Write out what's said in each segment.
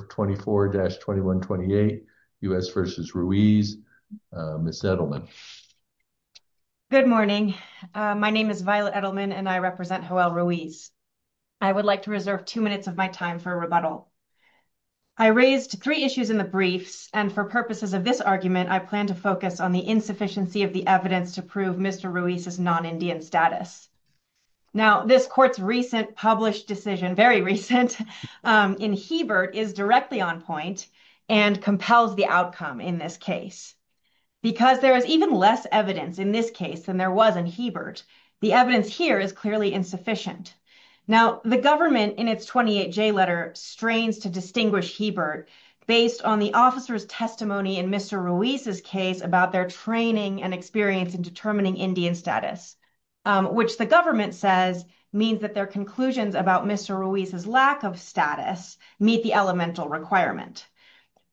24-2128 U.S. v. Ruiz. Ms. Edelman. Good morning. My name is Violet Edelman and I represent Joelle Ruiz. I would like to reserve two minutes of my time for a rebuttal. I raised three issues in the briefs and for purposes of this argument I plan to focus on the insufficiency of the evidence to prove Mr. Ruiz's non-Indian status. Now this court's recent published decision, very recent, in Hebert is directly on point and compels the outcome in this case because there is even less evidence in this case than there was in Hebert. The evidence here is clearly insufficient. Now the government in its 28-J letter strains to distinguish Hebert based on the officer's testimony in Mr. Ruiz's case about their training and experience in determining Indian status, which the government says means that their conclusions about Mr. Ruiz's lack of status meet the elemental requirement.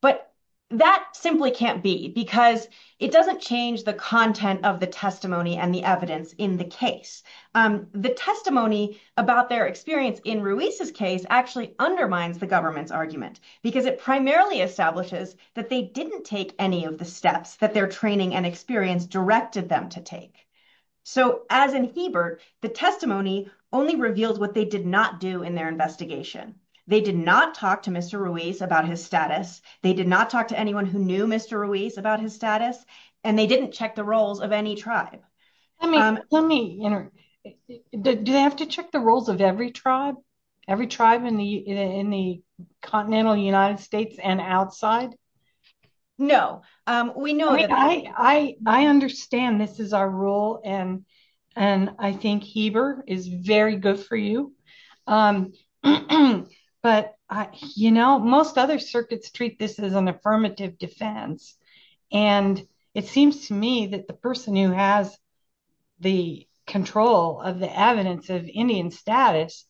But that simply can't be because it doesn't change the content of the testimony and the evidence in the case. The testimony about their experience in Ruiz's case actually undermines the government's argument because it primarily establishes that they didn't take any of the steps that their training and experience directed them to take. So as in Hebert, the testimony only reveals what they did not do in their investigation. They did not talk to Mr. Ruiz about his status. They did not talk to anyone who knew Mr. Ruiz about his status and they didn't check the roles of any tribe. Let me, do they have to check the roles of every tribe? Every tribe in the continental United States and outside? No. I understand this is our rule and I think Hebert is very good for you. But you know, most other circuits treat this as an affirmative defense. And it seems to me that the person who has the control of the evidence of Indian status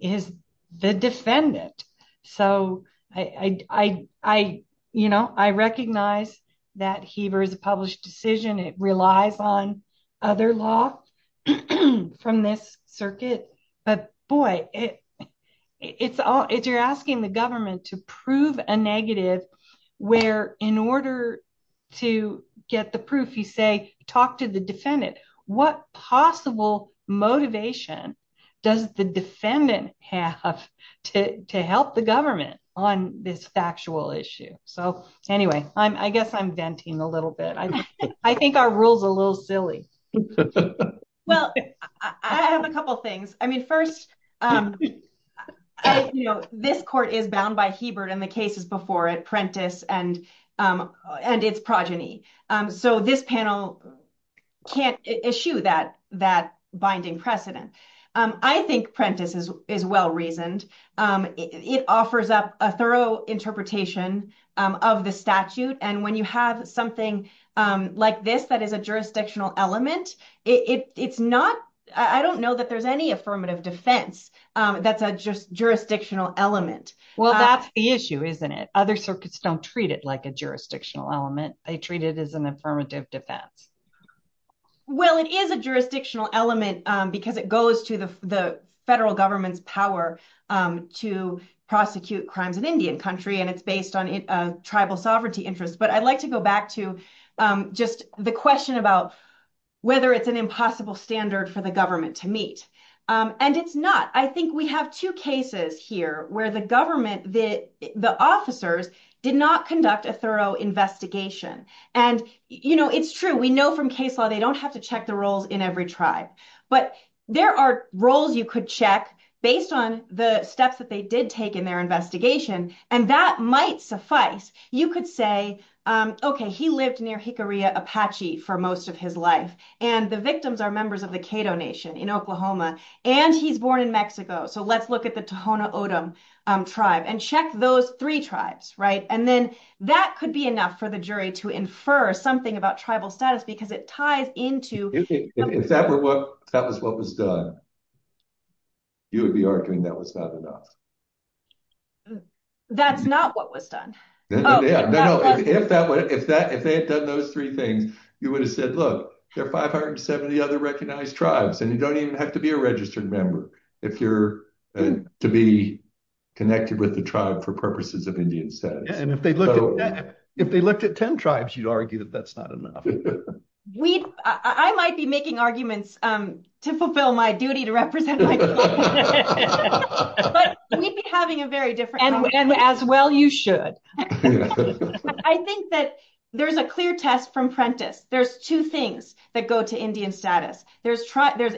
is the defendant. So I, you know, I recognize that Hebert is a published decision. It relies on other law from this circuit, but boy, it's all, if you're asking the government to prove a negative where in order to get the proof, you say, talk to the defendant, what possible motivation does the defendant have to help the government on this factual issue? So anyway, I guess I'm venting a little bit. I think our rule's a little silly. Well, I have a couple things. I mean, first, you know, this court is bound by Hebert and the cases before it, Prentiss and its progeny. So this panel can't issue that binding precedent. I think Prentiss is well-reasoned. It offers up a thorough interpretation of the statute. And when you have something like this, that is a jurisdictional element, it's not, I don't know that there's any affirmative defense that's a jurisdictional element. Well, that's the issue, isn't it? Other circuits don't treat it like a jurisdictional element. They treat it as an affirmative defense. Well, it is a jurisdictional element because it goes to the federal government's power to prosecute crimes in Indian country, and it's based on tribal sovereignty interests. But I'd like to go back to just the question about whether it's an impossible standard for the government to meet. And it's not. I think we have two cases here where the officers did not conduct a thorough investigation. And, you know, it's true. We know from case law, they don't have to check the roles in every tribe, but there are roles you could check based on the steps that they did take in their investigation. And that might suffice. You could say, okay, he lived near Jicarilla Apache for most of his life, and the victims are members of the Cato Nation in Oklahoma, and he's born in Mexico. So let's look at the Tohono O'odham tribe and check those three tribes, right? And then that could be enough for the jury to infer something about tribal status because it ties into... If that was what was done, you would be arguing that was not enough. That's not what was done. If they had done those three things, you would have said, look, there are 570 other recognized members. If you're to be connected with the tribe for purposes of Indian status. And if they looked at 10 tribes, you'd argue that that's not enough. I might be making arguments to fulfill my duty to represent my tribe. But we'd be having a very different problem. And as well you should. I think that there's a clear test from Prentiss. There's two things that go to Indian status. There's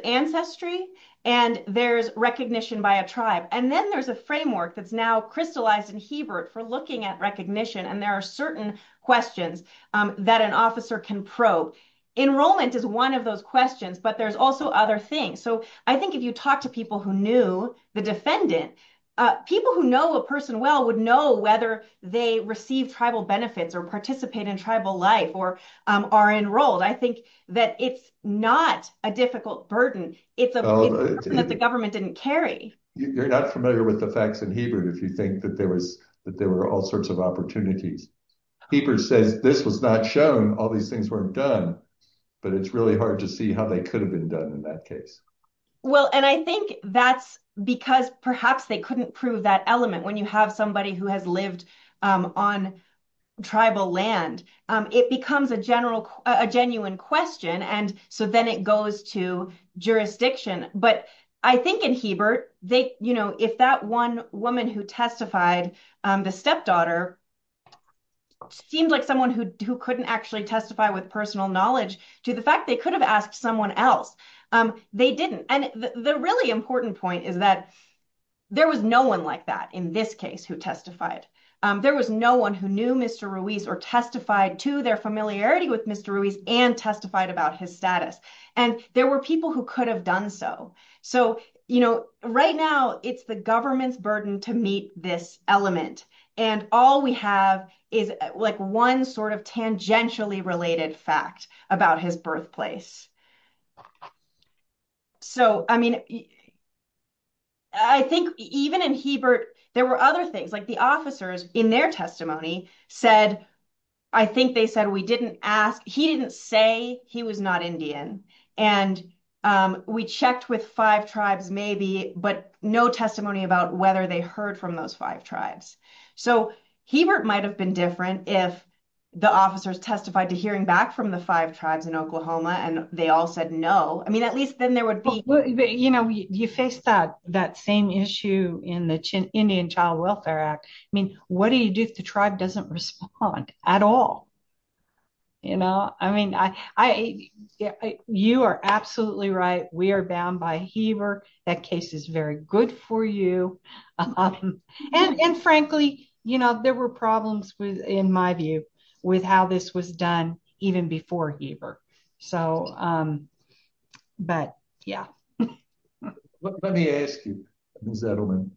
ancestry, and there's recognition by a tribe. And then there's a framework that's now crystallized in Hebert for looking at recognition. And there are certain questions that an officer can probe. Enrollment is one of those questions, but there's also other things. So I think if you talk to people who knew the defendant, people who know a person well would know whether they receive tribal benefits or participate in life or are enrolled. I think that it's not a difficult burden. It's a burden that the government didn't carry. You're not familiar with the facts in Hebert if you think that there were all sorts of opportunities. Hebert says this was not shown, all these things weren't done. But it's really hard to see how they could have been done in that case. Well, and I think that's because perhaps they couldn't prove that element when you have somebody who has lived on tribal land. It becomes a genuine question, and so then it goes to jurisdiction. But I think in Hebert, if that one woman who testified, the stepdaughter, seemed like someone who couldn't actually testify with personal knowledge to the fact they could have asked someone else, they didn't. And the really important point is that there was no one like that in this case who testified. There was no one who knew Mr. Ruiz or testified to their familiarity with Mr. Ruiz and testified about his status. And there were people who could have done so. So right now, it's the government's burden to meet this element. And all we have is one sort of tangentially related fact about his birthplace. So, I mean, I think even in Hebert, there were other things, like the officers in their testimony said, I think they said, we didn't ask, he didn't say he was not Indian. And we checked with five tribes maybe, but no testimony about whether they heard from those five tribes. So Hebert might have been different if the officers testified to hearing back from the five tribes in Oklahoma and they all said no. I mean, at least then there would be... You know, you face that same issue in the Indian Child Welfare Act. I mean, what do you do if the tribe doesn't respond at all? You know, I mean, you are absolutely right. We are bound by Hebert. That case is very good for you. And frankly, you know, there were problems in my view with how this was done even before Hebert. So, but yeah. Let me ask you, Ms. Edelman,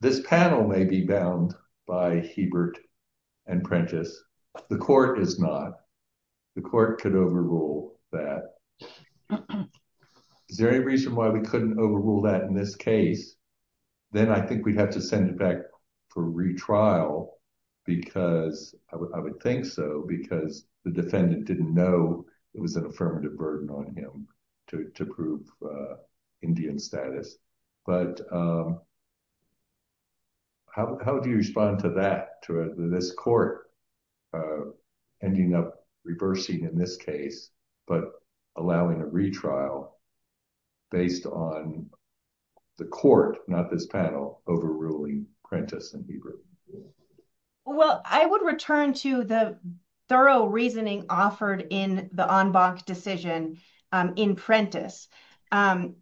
this panel may be bound by Hebert and Prentiss. The court is not. The court could overrule that. Is there any reason why we couldn't overrule that in this case? Then I think we'd have to send it back for retrial because, I would think so, because the defendant didn't know it was an affirmative burden on him to prove Indian status. But how do you respond to that, to this court ending up reversing in this case, but allowing a retrial based on the court, not this panel, overruling Prentiss and Hebert? Well, I would return to the thorough reasoning offered in the en banc decision in Prentiss. The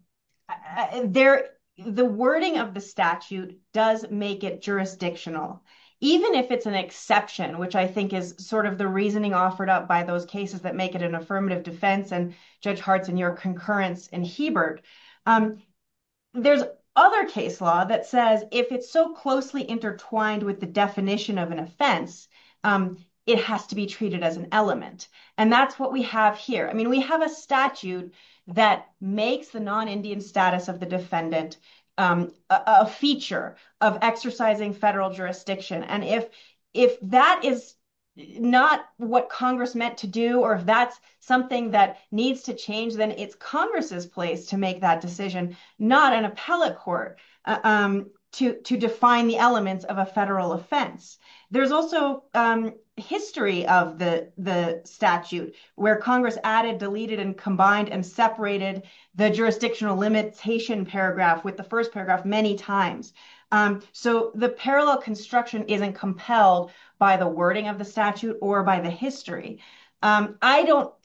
wording of the statute does make it jurisdictional, even if it's an exception, which I think is sort of the reasoning offered up by those cases that make it an affirmative defense. Judge Hartz and your concurrence in Hebert, there's other case law that says if it's so closely intertwined with the definition of an offense, it has to be treated as an element. That's what we have here. We have a statute that makes the non-Indian status of the defendant a feature of exercising federal jurisdiction. If that is not what Congress meant to do, or if that's something that needs to change, then it's Congress's place to make that decision, not an appellate court to define the elements of a federal offense. There's also history of the statute where Congress added, deleted, and combined and separated the jurisdictional limitation paragraph with the first paragraph many times. So the parallel construction isn't compelled by the wording of the statute or by the history. I don't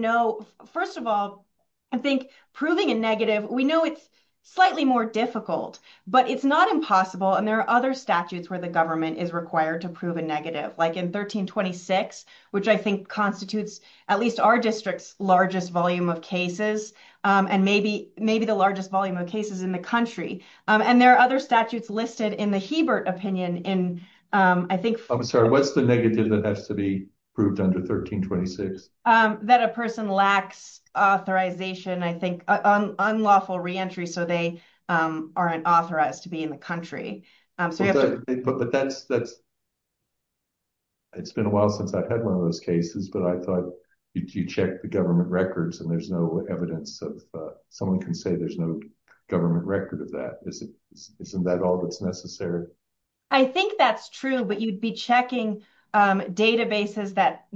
know. First of all, I think proving a negative, we know it's slightly more difficult, but it's not impossible. And there are other statutes where the government is required to prove a negative, like in 1326, which I think constitutes at least our district's largest volume of cases, and maybe the largest volume of cases in the country. And there are other statutes listed in the Hebert opinion. I'm sorry, what's the negative that has to be proved under 1326? That a person lacks authorization, I think, unlawful re-entry, so they aren't authorized to be in the country. But that's... It's been a while since I've had one of those cases, but I thought you check the government records and there's no evidence of... Someone can say there's no government record of that. Isn't that all that's necessary? I think that's true, but you'd be checking databases that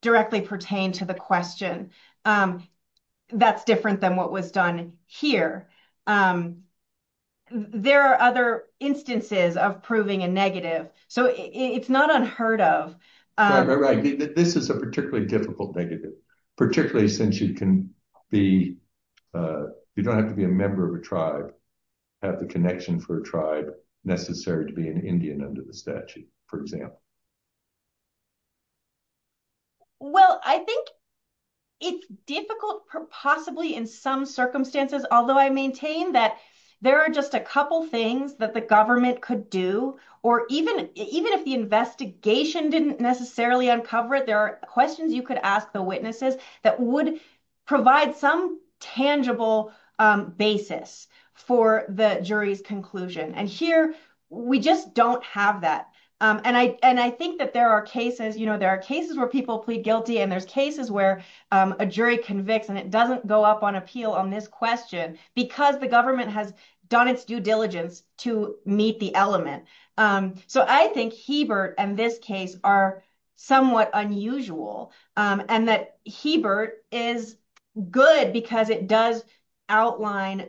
directly pertain to the question. That's different than what was done here. There are other instances of proving a negative, so it's not unheard of. This is a particularly difficult negative, particularly since you can be... You don't have the connection for a tribe necessary to be an Indian under the statute, for example. Well, I think it's difficult possibly in some circumstances, although I maintain that there are just a couple things that the government could do, or even if the investigation didn't necessarily uncover it, there are questions you could ask the witnesses that would provide some tangible basis for the jury's conclusion. Here, we just don't have that. I think that there are cases where people plead guilty, and there's cases where a jury convicts, and it doesn't go up on appeal on this question because the government has done its due diligence to meet the element. I think Hebert and this case are somewhat unusual, and that Hebert is good because it does outline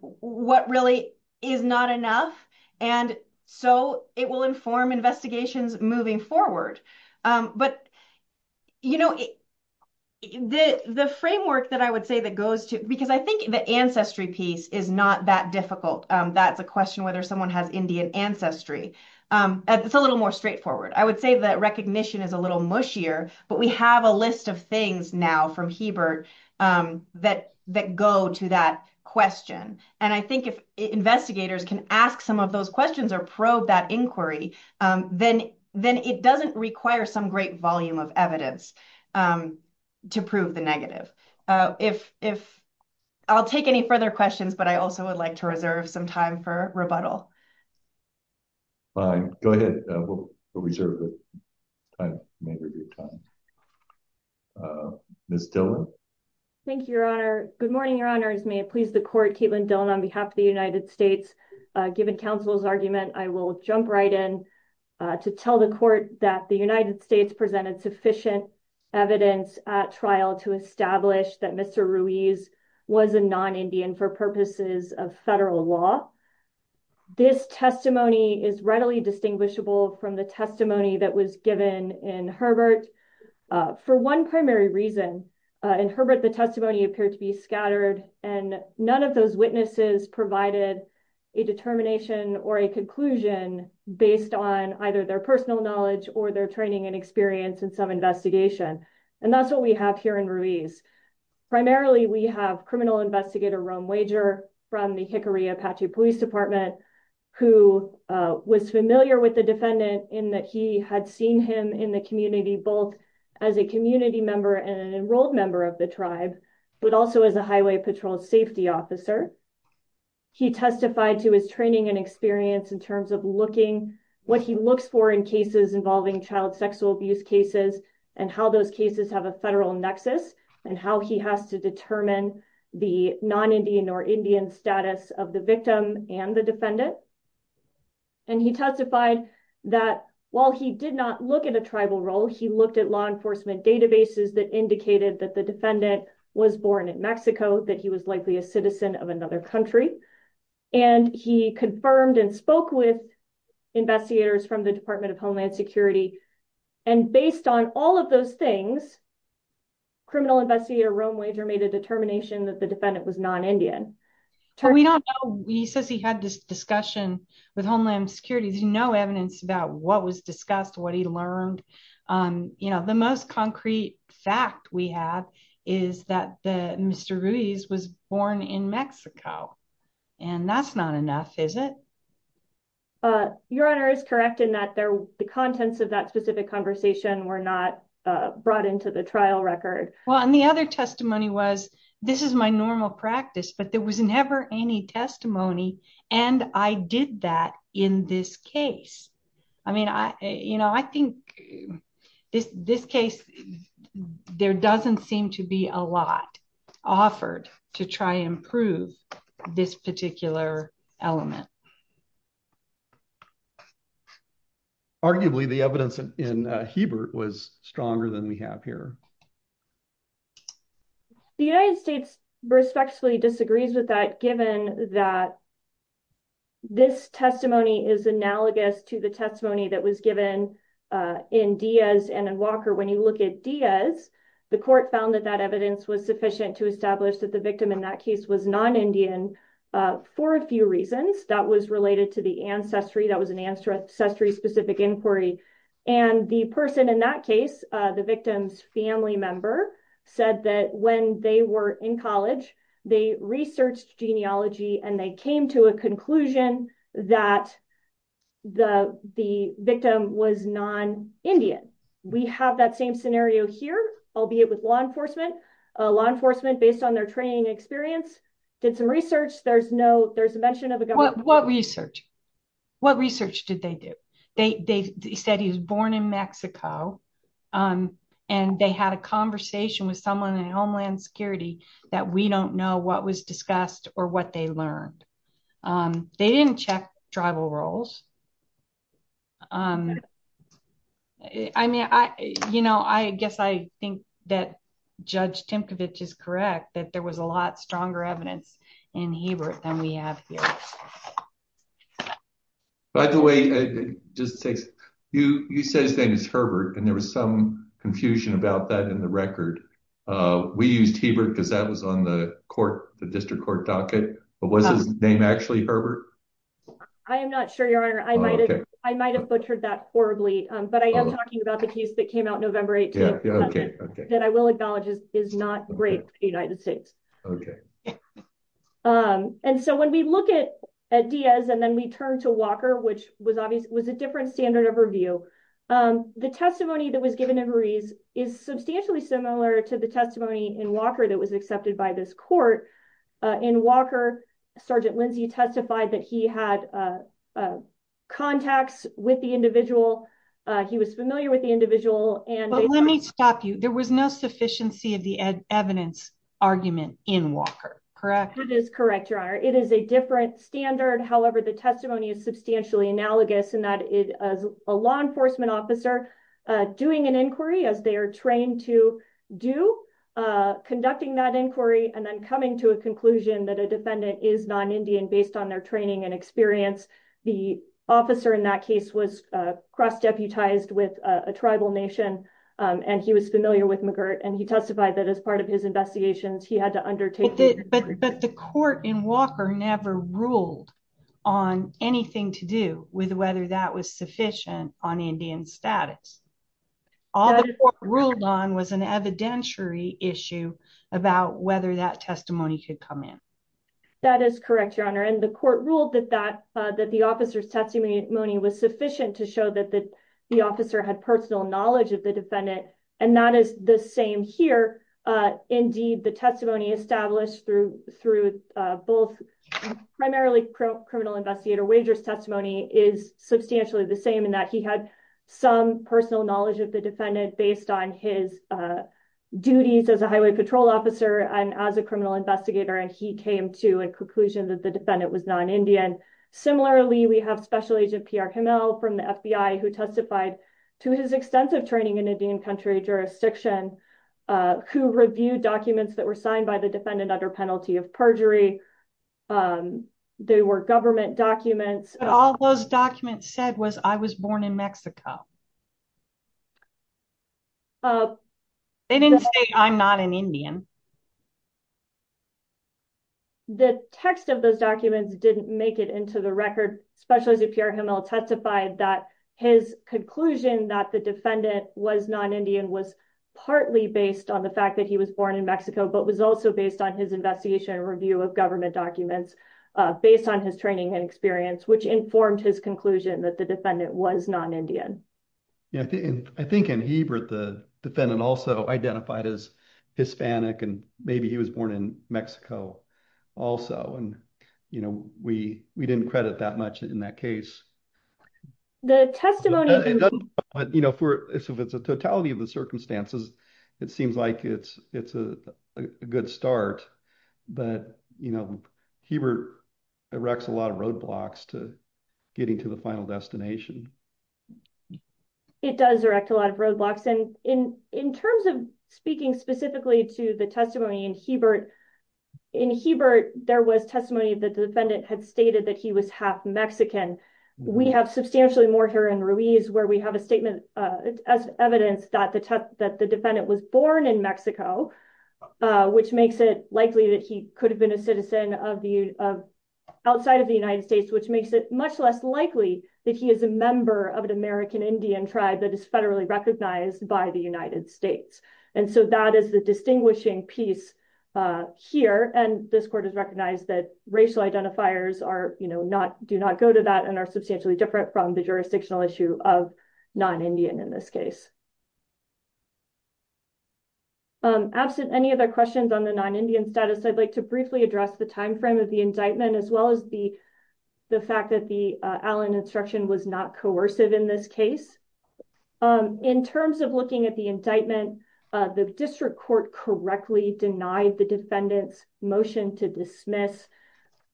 what really is not enough, and so it will inform investigations moving forward. But the framework that I would say that goes to... Because I think the ancestry piece is not that difficult. That's a question whether someone has Indian ancestry. It's a little more straightforward. I would say that recognition is a little mushier, but we have a that go to that question. I think if investigators can ask some of those questions or probe that inquiry, then it doesn't require some great volume of evidence to prove the negative. I'll take any further questions, but I also would like to reserve some time for rebuttal. All right. Go ahead. We'll reserve the time. Ms. Dillon. Thank you, Your Honor. Good morning, Your Honors. May it please the court, Caitlin Dillon on behalf of the United States. Given counsel's argument, I will jump right in to tell the court that the United States presented sufficient evidence at trial to establish that Mr. Ruiz was a non-Indian for purposes of federal law. This testimony is readily distinguishable from the testimony that was given in Herbert for one primary reason. In Herbert, the testimony appeared to be scattered, and none of those witnesses provided a determination or a conclusion based on either their personal knowledge or their training and experience in some investigation, and that's what we have here in Ruiz. Primarily, we have Criminal Investigator Rome Wager from the Hickory Apache Police Department, who was familiar with the defendant in that he had seen him in the community both as a community member and an enrolled member of the tribe, but also as a highway patrol safety officer. He testified to his training and experience in terms of what he looks for in cases involving child sexual abuse cases and how those cases have a federal nexus and how he has to determine the non-Indian or Indian status of the victim and the defendant. He testified that while he did not look at a tribal role, he looked at law enforcement databases that indicated that the defendant was born in Mexico, that he was likely a citizen of another country, and he confirmed and spoke with investigators from the Department of Homeland Security, and based on all of those things, Criminal Investigator Rome Wager made a determination that the defendant was non-Indian. We don't know. He says he had this discussion with Homeland Security. There's no evidence about what was discussed, what he learned. The most concrete fact we have is that Mr. Ruiz was born in Mexico, and that's not enough, is it? Your Honor is correct in that the contents of that specific conversation were not brought into the trial record. Well, and the other testimony was, this is my normal practice, but there was never any testimony, and I did that in this case. I mean, you know, I think this case, there doesn't seem to be a lot offered to try and prove this particular element. Arguably, the evidence in Hebert was stronger than we have here. The United States respectfully disagrees with that, given that this testimony is analogous that was given in Diaz and Walker. When you look at Diaz, the court found that that evidence was sufficient to establish that the victim in that case was non-Indian for a few reasons. That was related to the ancestry. That was an ancestry-specific inquiry, and the person in that case, the victim's family member, said that when they were in college, they researched genealogy and they came to a conclusion that the victim was non-Indian. We have that same scenario here, albeit with law enforcement. Law enforcement, based on their training experience, did some research. There's no, there's a mention of a government. What research? What research did they do? They said he was born in Mexico, and they had a conversation with someone in Homeland Security that we don't know what was discussed or what they learned. They didn't check tribal roles. I mean, I, you know, I guess I think that Judge Timkovich is correct, that there was a lot stronger evidence in Hebert than we have here. By the way, it just takes, you, you said his name is Herbert, and there was some confusion about that in the record. We used Hebert because that was on the court, the district court docket, but was his name actually Herbert? I am not sure, Your Honor. I might have butchered that horribly, but I am talking about the case that came out November 8th, that I will acknowledge is not great for the United States. Okay. And so when we look at Diaz and then we turn to Walker, which was obvious, was a different standard of review. The testimony that was given to Ruiz is substantially similar to the testimony in Walker that was accepted by this court. In Walker, Sergeant Lindsey testified that he had contacts with the individual. He was familiar with the individual. But let me stop you. There was no sufficiency of the evidence argument in Walker, correct? That is correct, Your Honor. It is a different standard. However, the testimony is substantially analogous in that it is a law enforcement officer doing an inquiry as they are trained to do, conducting that inquiry, and then coming to a conclusion that a defendant is non-Indian based on their training and experience. The officer in that case was cross-deputized with a tribal nation, and he was familiar with McGirt, and he testified that as part of his investigations, he had to undertake. But the court in Walker never ruled on anything to do with whether that was sufficient on Indian status. All the court ruled on was an evidentiary issue about whether that testimony could come in. That is correct, Your Honor. And the court ruled that the officer's testimony was sufficient to show that the officer had personal knowledge of the defendant. And that is the same here. Indeed, the testimony established through both primarily criminal investigator wagers testimony is substantially the same in that he had some personal knowledge of the defendant based on his duties as a highway patrol officer and as a criminal investigator, and he came to a conclusion that the defendant was non-Indian. Similarly, we have Special Agent PR Kimmel from the FBI who to his extensive training in Indian country jurisdiction, who reviewed documents that were signed by the defendant under penalty of perjury. They were government documents. All those documents said was I was born in Mexico. They didn't say I'm not an Indian. The text of those documents didn't make it into the record. Special Agent PR Kimmel testified that his conclusion that the defendant was non-Indian was partly based on the fact that he was born in Mexico, but was also based on his investigation review of government documents based on his training and experience, which informed his conclusion that the defendant was non-Indian. I think in Hebrew, the defendant also identified as Hispanic and maybe he was born in Mexico also. We didn't credit that much in that case. If it's a totality of the circumstances, it seems like it's a good start, but Hebert erects a lot of roadblocks to getting to the final destination. It does erect a lot of roadblocks. In terms of speaking specifically to the testimony in Hebert, in Hebert, there was testimony that the defendant had stated that he was half Mexican. We have substantially more here in Ruiz where we have a statement as evidence that the defendant was born in Mexico, which makes it likely that he could have been a citizen outside of the United States, which makes it much less likely that he is a member of an American Indian tribe that is distinguishing piece here. This court has recognized that racial identifiers do not go to that and are substantially different from the jurisdictional issue of non-Indian in this case. Absent any other questions on the non-Indian status, I'd like to briefly address the time frame of the indictment, as well as the fact that the Allen instruction was not coercive in this case. In terms of looking at the indictment, the district court correctly denied the defendant's motion to dismiss.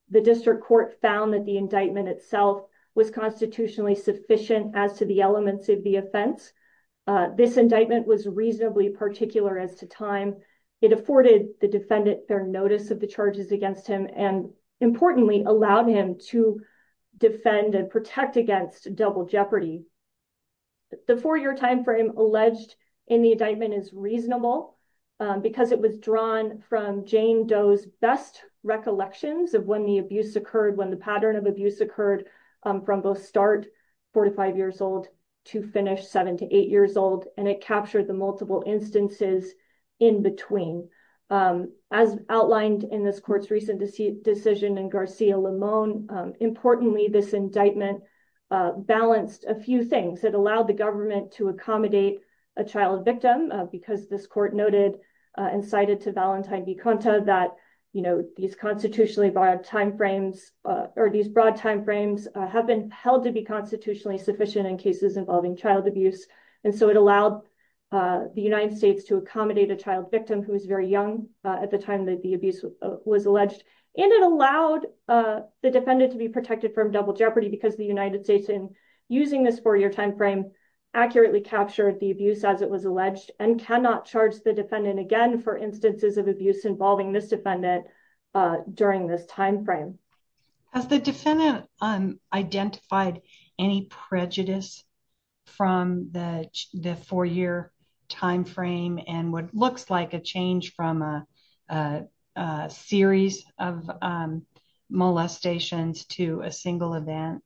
The district court found that the indictment itself was constitutionally sufficient as to the elements of the offense. This indictment was reasonably particular as to time. It afforded the defendant their notice of the charges against him and importantly allowed him to defend and protect against double jeopardy. The four-year time frame alleged in the indictment is reasonable because it was drawn from Jane Doe's best recollections of when the abuse occurred, when the pattern of abuse occurred from both start four to five years old to finish seven to eight years old, and it captured the multiple instances in between. As outlined in this court's decision in Garcia-Limon, importantly this indictment balanced a few things. It allowed the government to accommodate a child victim because this court noted and cited to Valentine Viconta that these constitutionally broad time frames have been held to be constitutionally sufficient in cases involving child abuse, and so it allowed the United States to accommodate a child victim who was very young at the time that the abuse was alleged, and it allowed the defendant to be protected from double jeopardy because the United States in using this four-year time frame accurately captured the abuse as it was alleged and cannot charge the defendant again for instances of abuse involving this defendant during this time frame. Has the defendant identified any prejudice from the four-year time frame and what looks like a change from a series of molestations to a single event?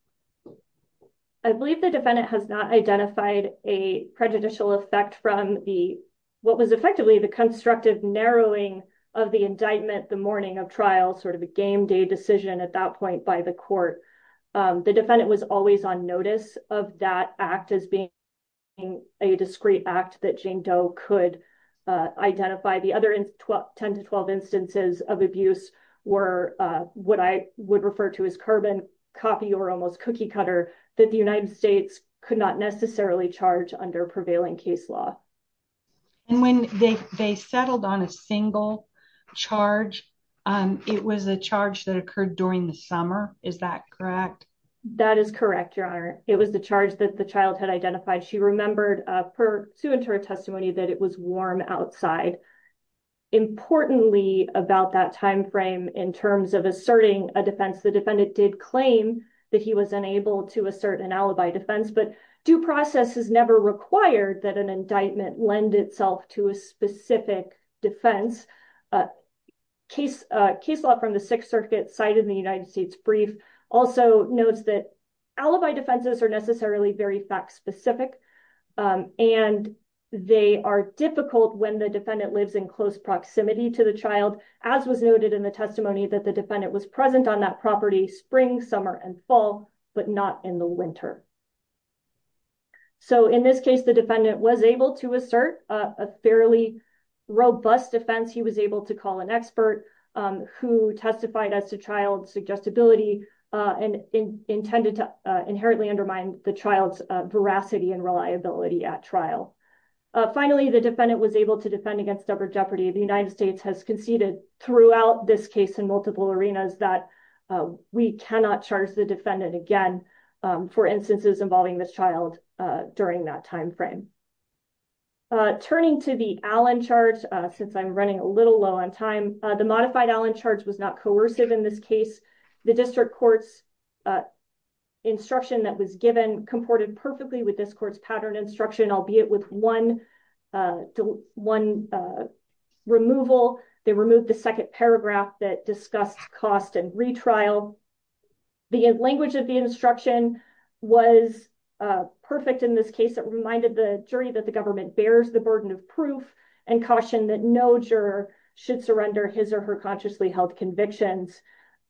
I believe the defendant has not identified a prejudicial effect from what was effectively the constructive narrowing of the indictment the morning of trial, sort of a game day decision at that point by the court. The defendant was always on notice of that act as being a discrete act that Jane Doe could identify. The other 10 to 12 instances of abuse were what I would refer to as carbon copy or almost cookie cutter that the United States could not necessarily charge under prevailing case law. And when they settled on a single charge, it was a charge that occurred during the summer, is that correct? That is correct, Your Honor. It was the charge that the child had identified. She remembered pursuant to her testimony that it was warm outside. Importantly about that time frame in terms of asserting a defense, the defendant did claim that he was unable to assert an alibi defense, but due process is never required that an indictment lend itself to a specific defense. Case law from the Sixth Circuit cited in the United States Brief also notes that alibi defenses are necessarily very fact-specific and they are difficult when the defendant lives in close proximity to the child, as was noted in the testimony that the defendant was present on that spring, summer, and fall, but not in the winter. So in this case, the defendant was able to assert a fairly robust defense. He was able to call an expert who testified as to child's suggestibility and intended to inherently undermine the child's veracity and reliability at trial. Finally, the defendant was able to defend against double jeopardy. The United States has conceded throughout this case in multiple arenas that we cannot charge the defendant again for instances involving this child during that time frame. Turning to the Allen charge, since I'm running a little low on time, the modified Allen charge was not coercive in this case. The district court's instruction that was given comported perfectly with this court's pattern instruction, albeit with one removal. They removed the second paragraph that discussed cost and retrial. The language of the instruction was perfect in this case. It reminded the jury that the government bears the burden of proof and cautioned that no juror should surrender his or her consciously held convictions.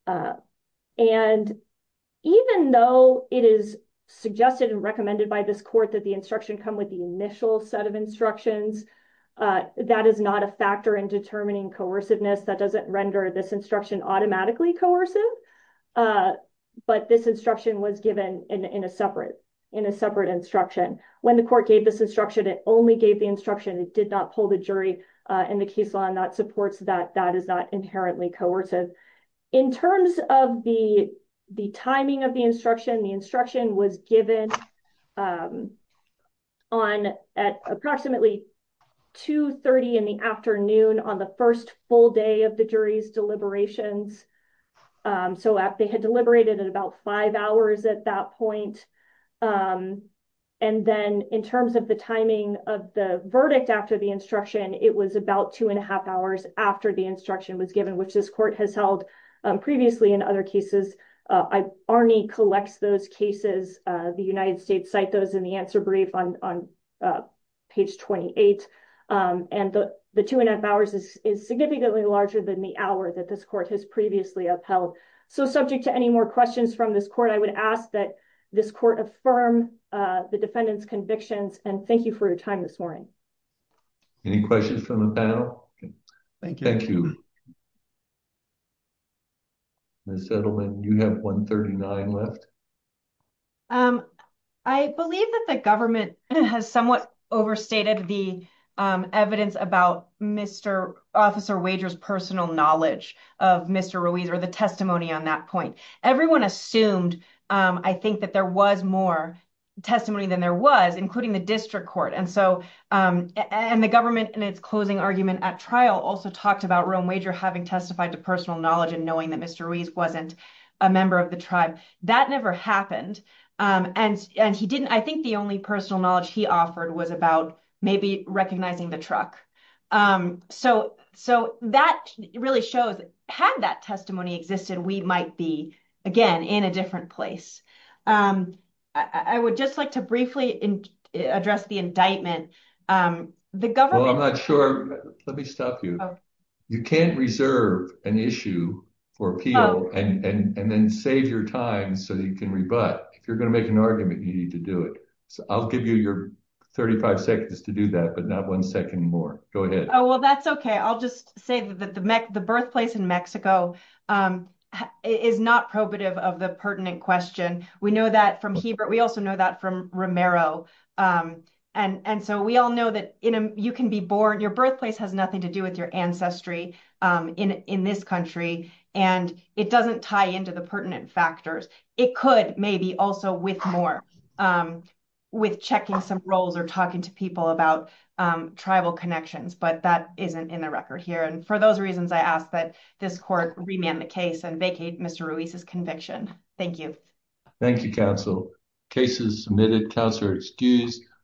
And even though it is suggested and recommended by this court that instruction come with the initial set of instructions, that is not a factor in determining coerciveness. That doesn't render this instruction automatically coercive, but this instruction was given in a separate instruction. When the court gave this instruction, it only gave the instruction. It did not pull the jury in the case law, and that supports that that is not inherently coercive. In terms of the timing of the instruction, the instruction was given on at approximately 2.30 in the afternoon on the first full day of the jury's deliberations. So they had deliberated at about five hours at that point. And then in terms of the timing of the verdict after the instruction, it was about two and a half hours after the instruction was given, which this court has held previously in other cases. Arnie collects those cases. The United States cite those in the answer brief on page 28. And the two and a half hours is significantly larger than the hour that this court has previously upheld. So subject to any more questions from this court, I would ask that this court affirm the defendant's convictions, and thank you for your time this morning. Any questions from the panel? Thank you. Ms. Edelman, you have 1.39 left. I believe that the government has somewhat overstated the evidence about Mr. Officer Wager's personal knowledge of Mr. Ruiz or the testimony on that point. Everyone assumed, I think, that there was more testimony than there was, including the district court. And the government, in its closing argument at trial, also talked about Rome Wager having testified to personal knowledge and knowing that Mr. Ruiz wasn't a member of the tribe. That never happened. And I think the only personal knowledge he offered was about maybe recognizing the truck. So that really shows, had that testimony existed, we might be, again, in a indictment. I'm not sure. Let me stop you. You can't reserve an issue for appeal and then save your time so you can rebut. If you're going to make an argument, you need to do it. So I'll give you your 35 seconds to do that, but not one second more. Go ahead. Oh, well, that's okay. I'll just say that the birthplace in Mexico is not probative of the pertinent question. We know that from Ebert. We also know that from Romero. And so we all know that you can be born, your birthplace has nothing to do with your ancestry in this country. And it doesn't tie into the pertinent factors. It could maybe also with more, with checking some roles or talking to people about tribal connections. But that isn't in the record here. And for those reasons, I ask that this court remand the case and vacate Mr. Ruiz's conviction. Thank you. Thank you, counsel. Cases submitted. Counselor excused.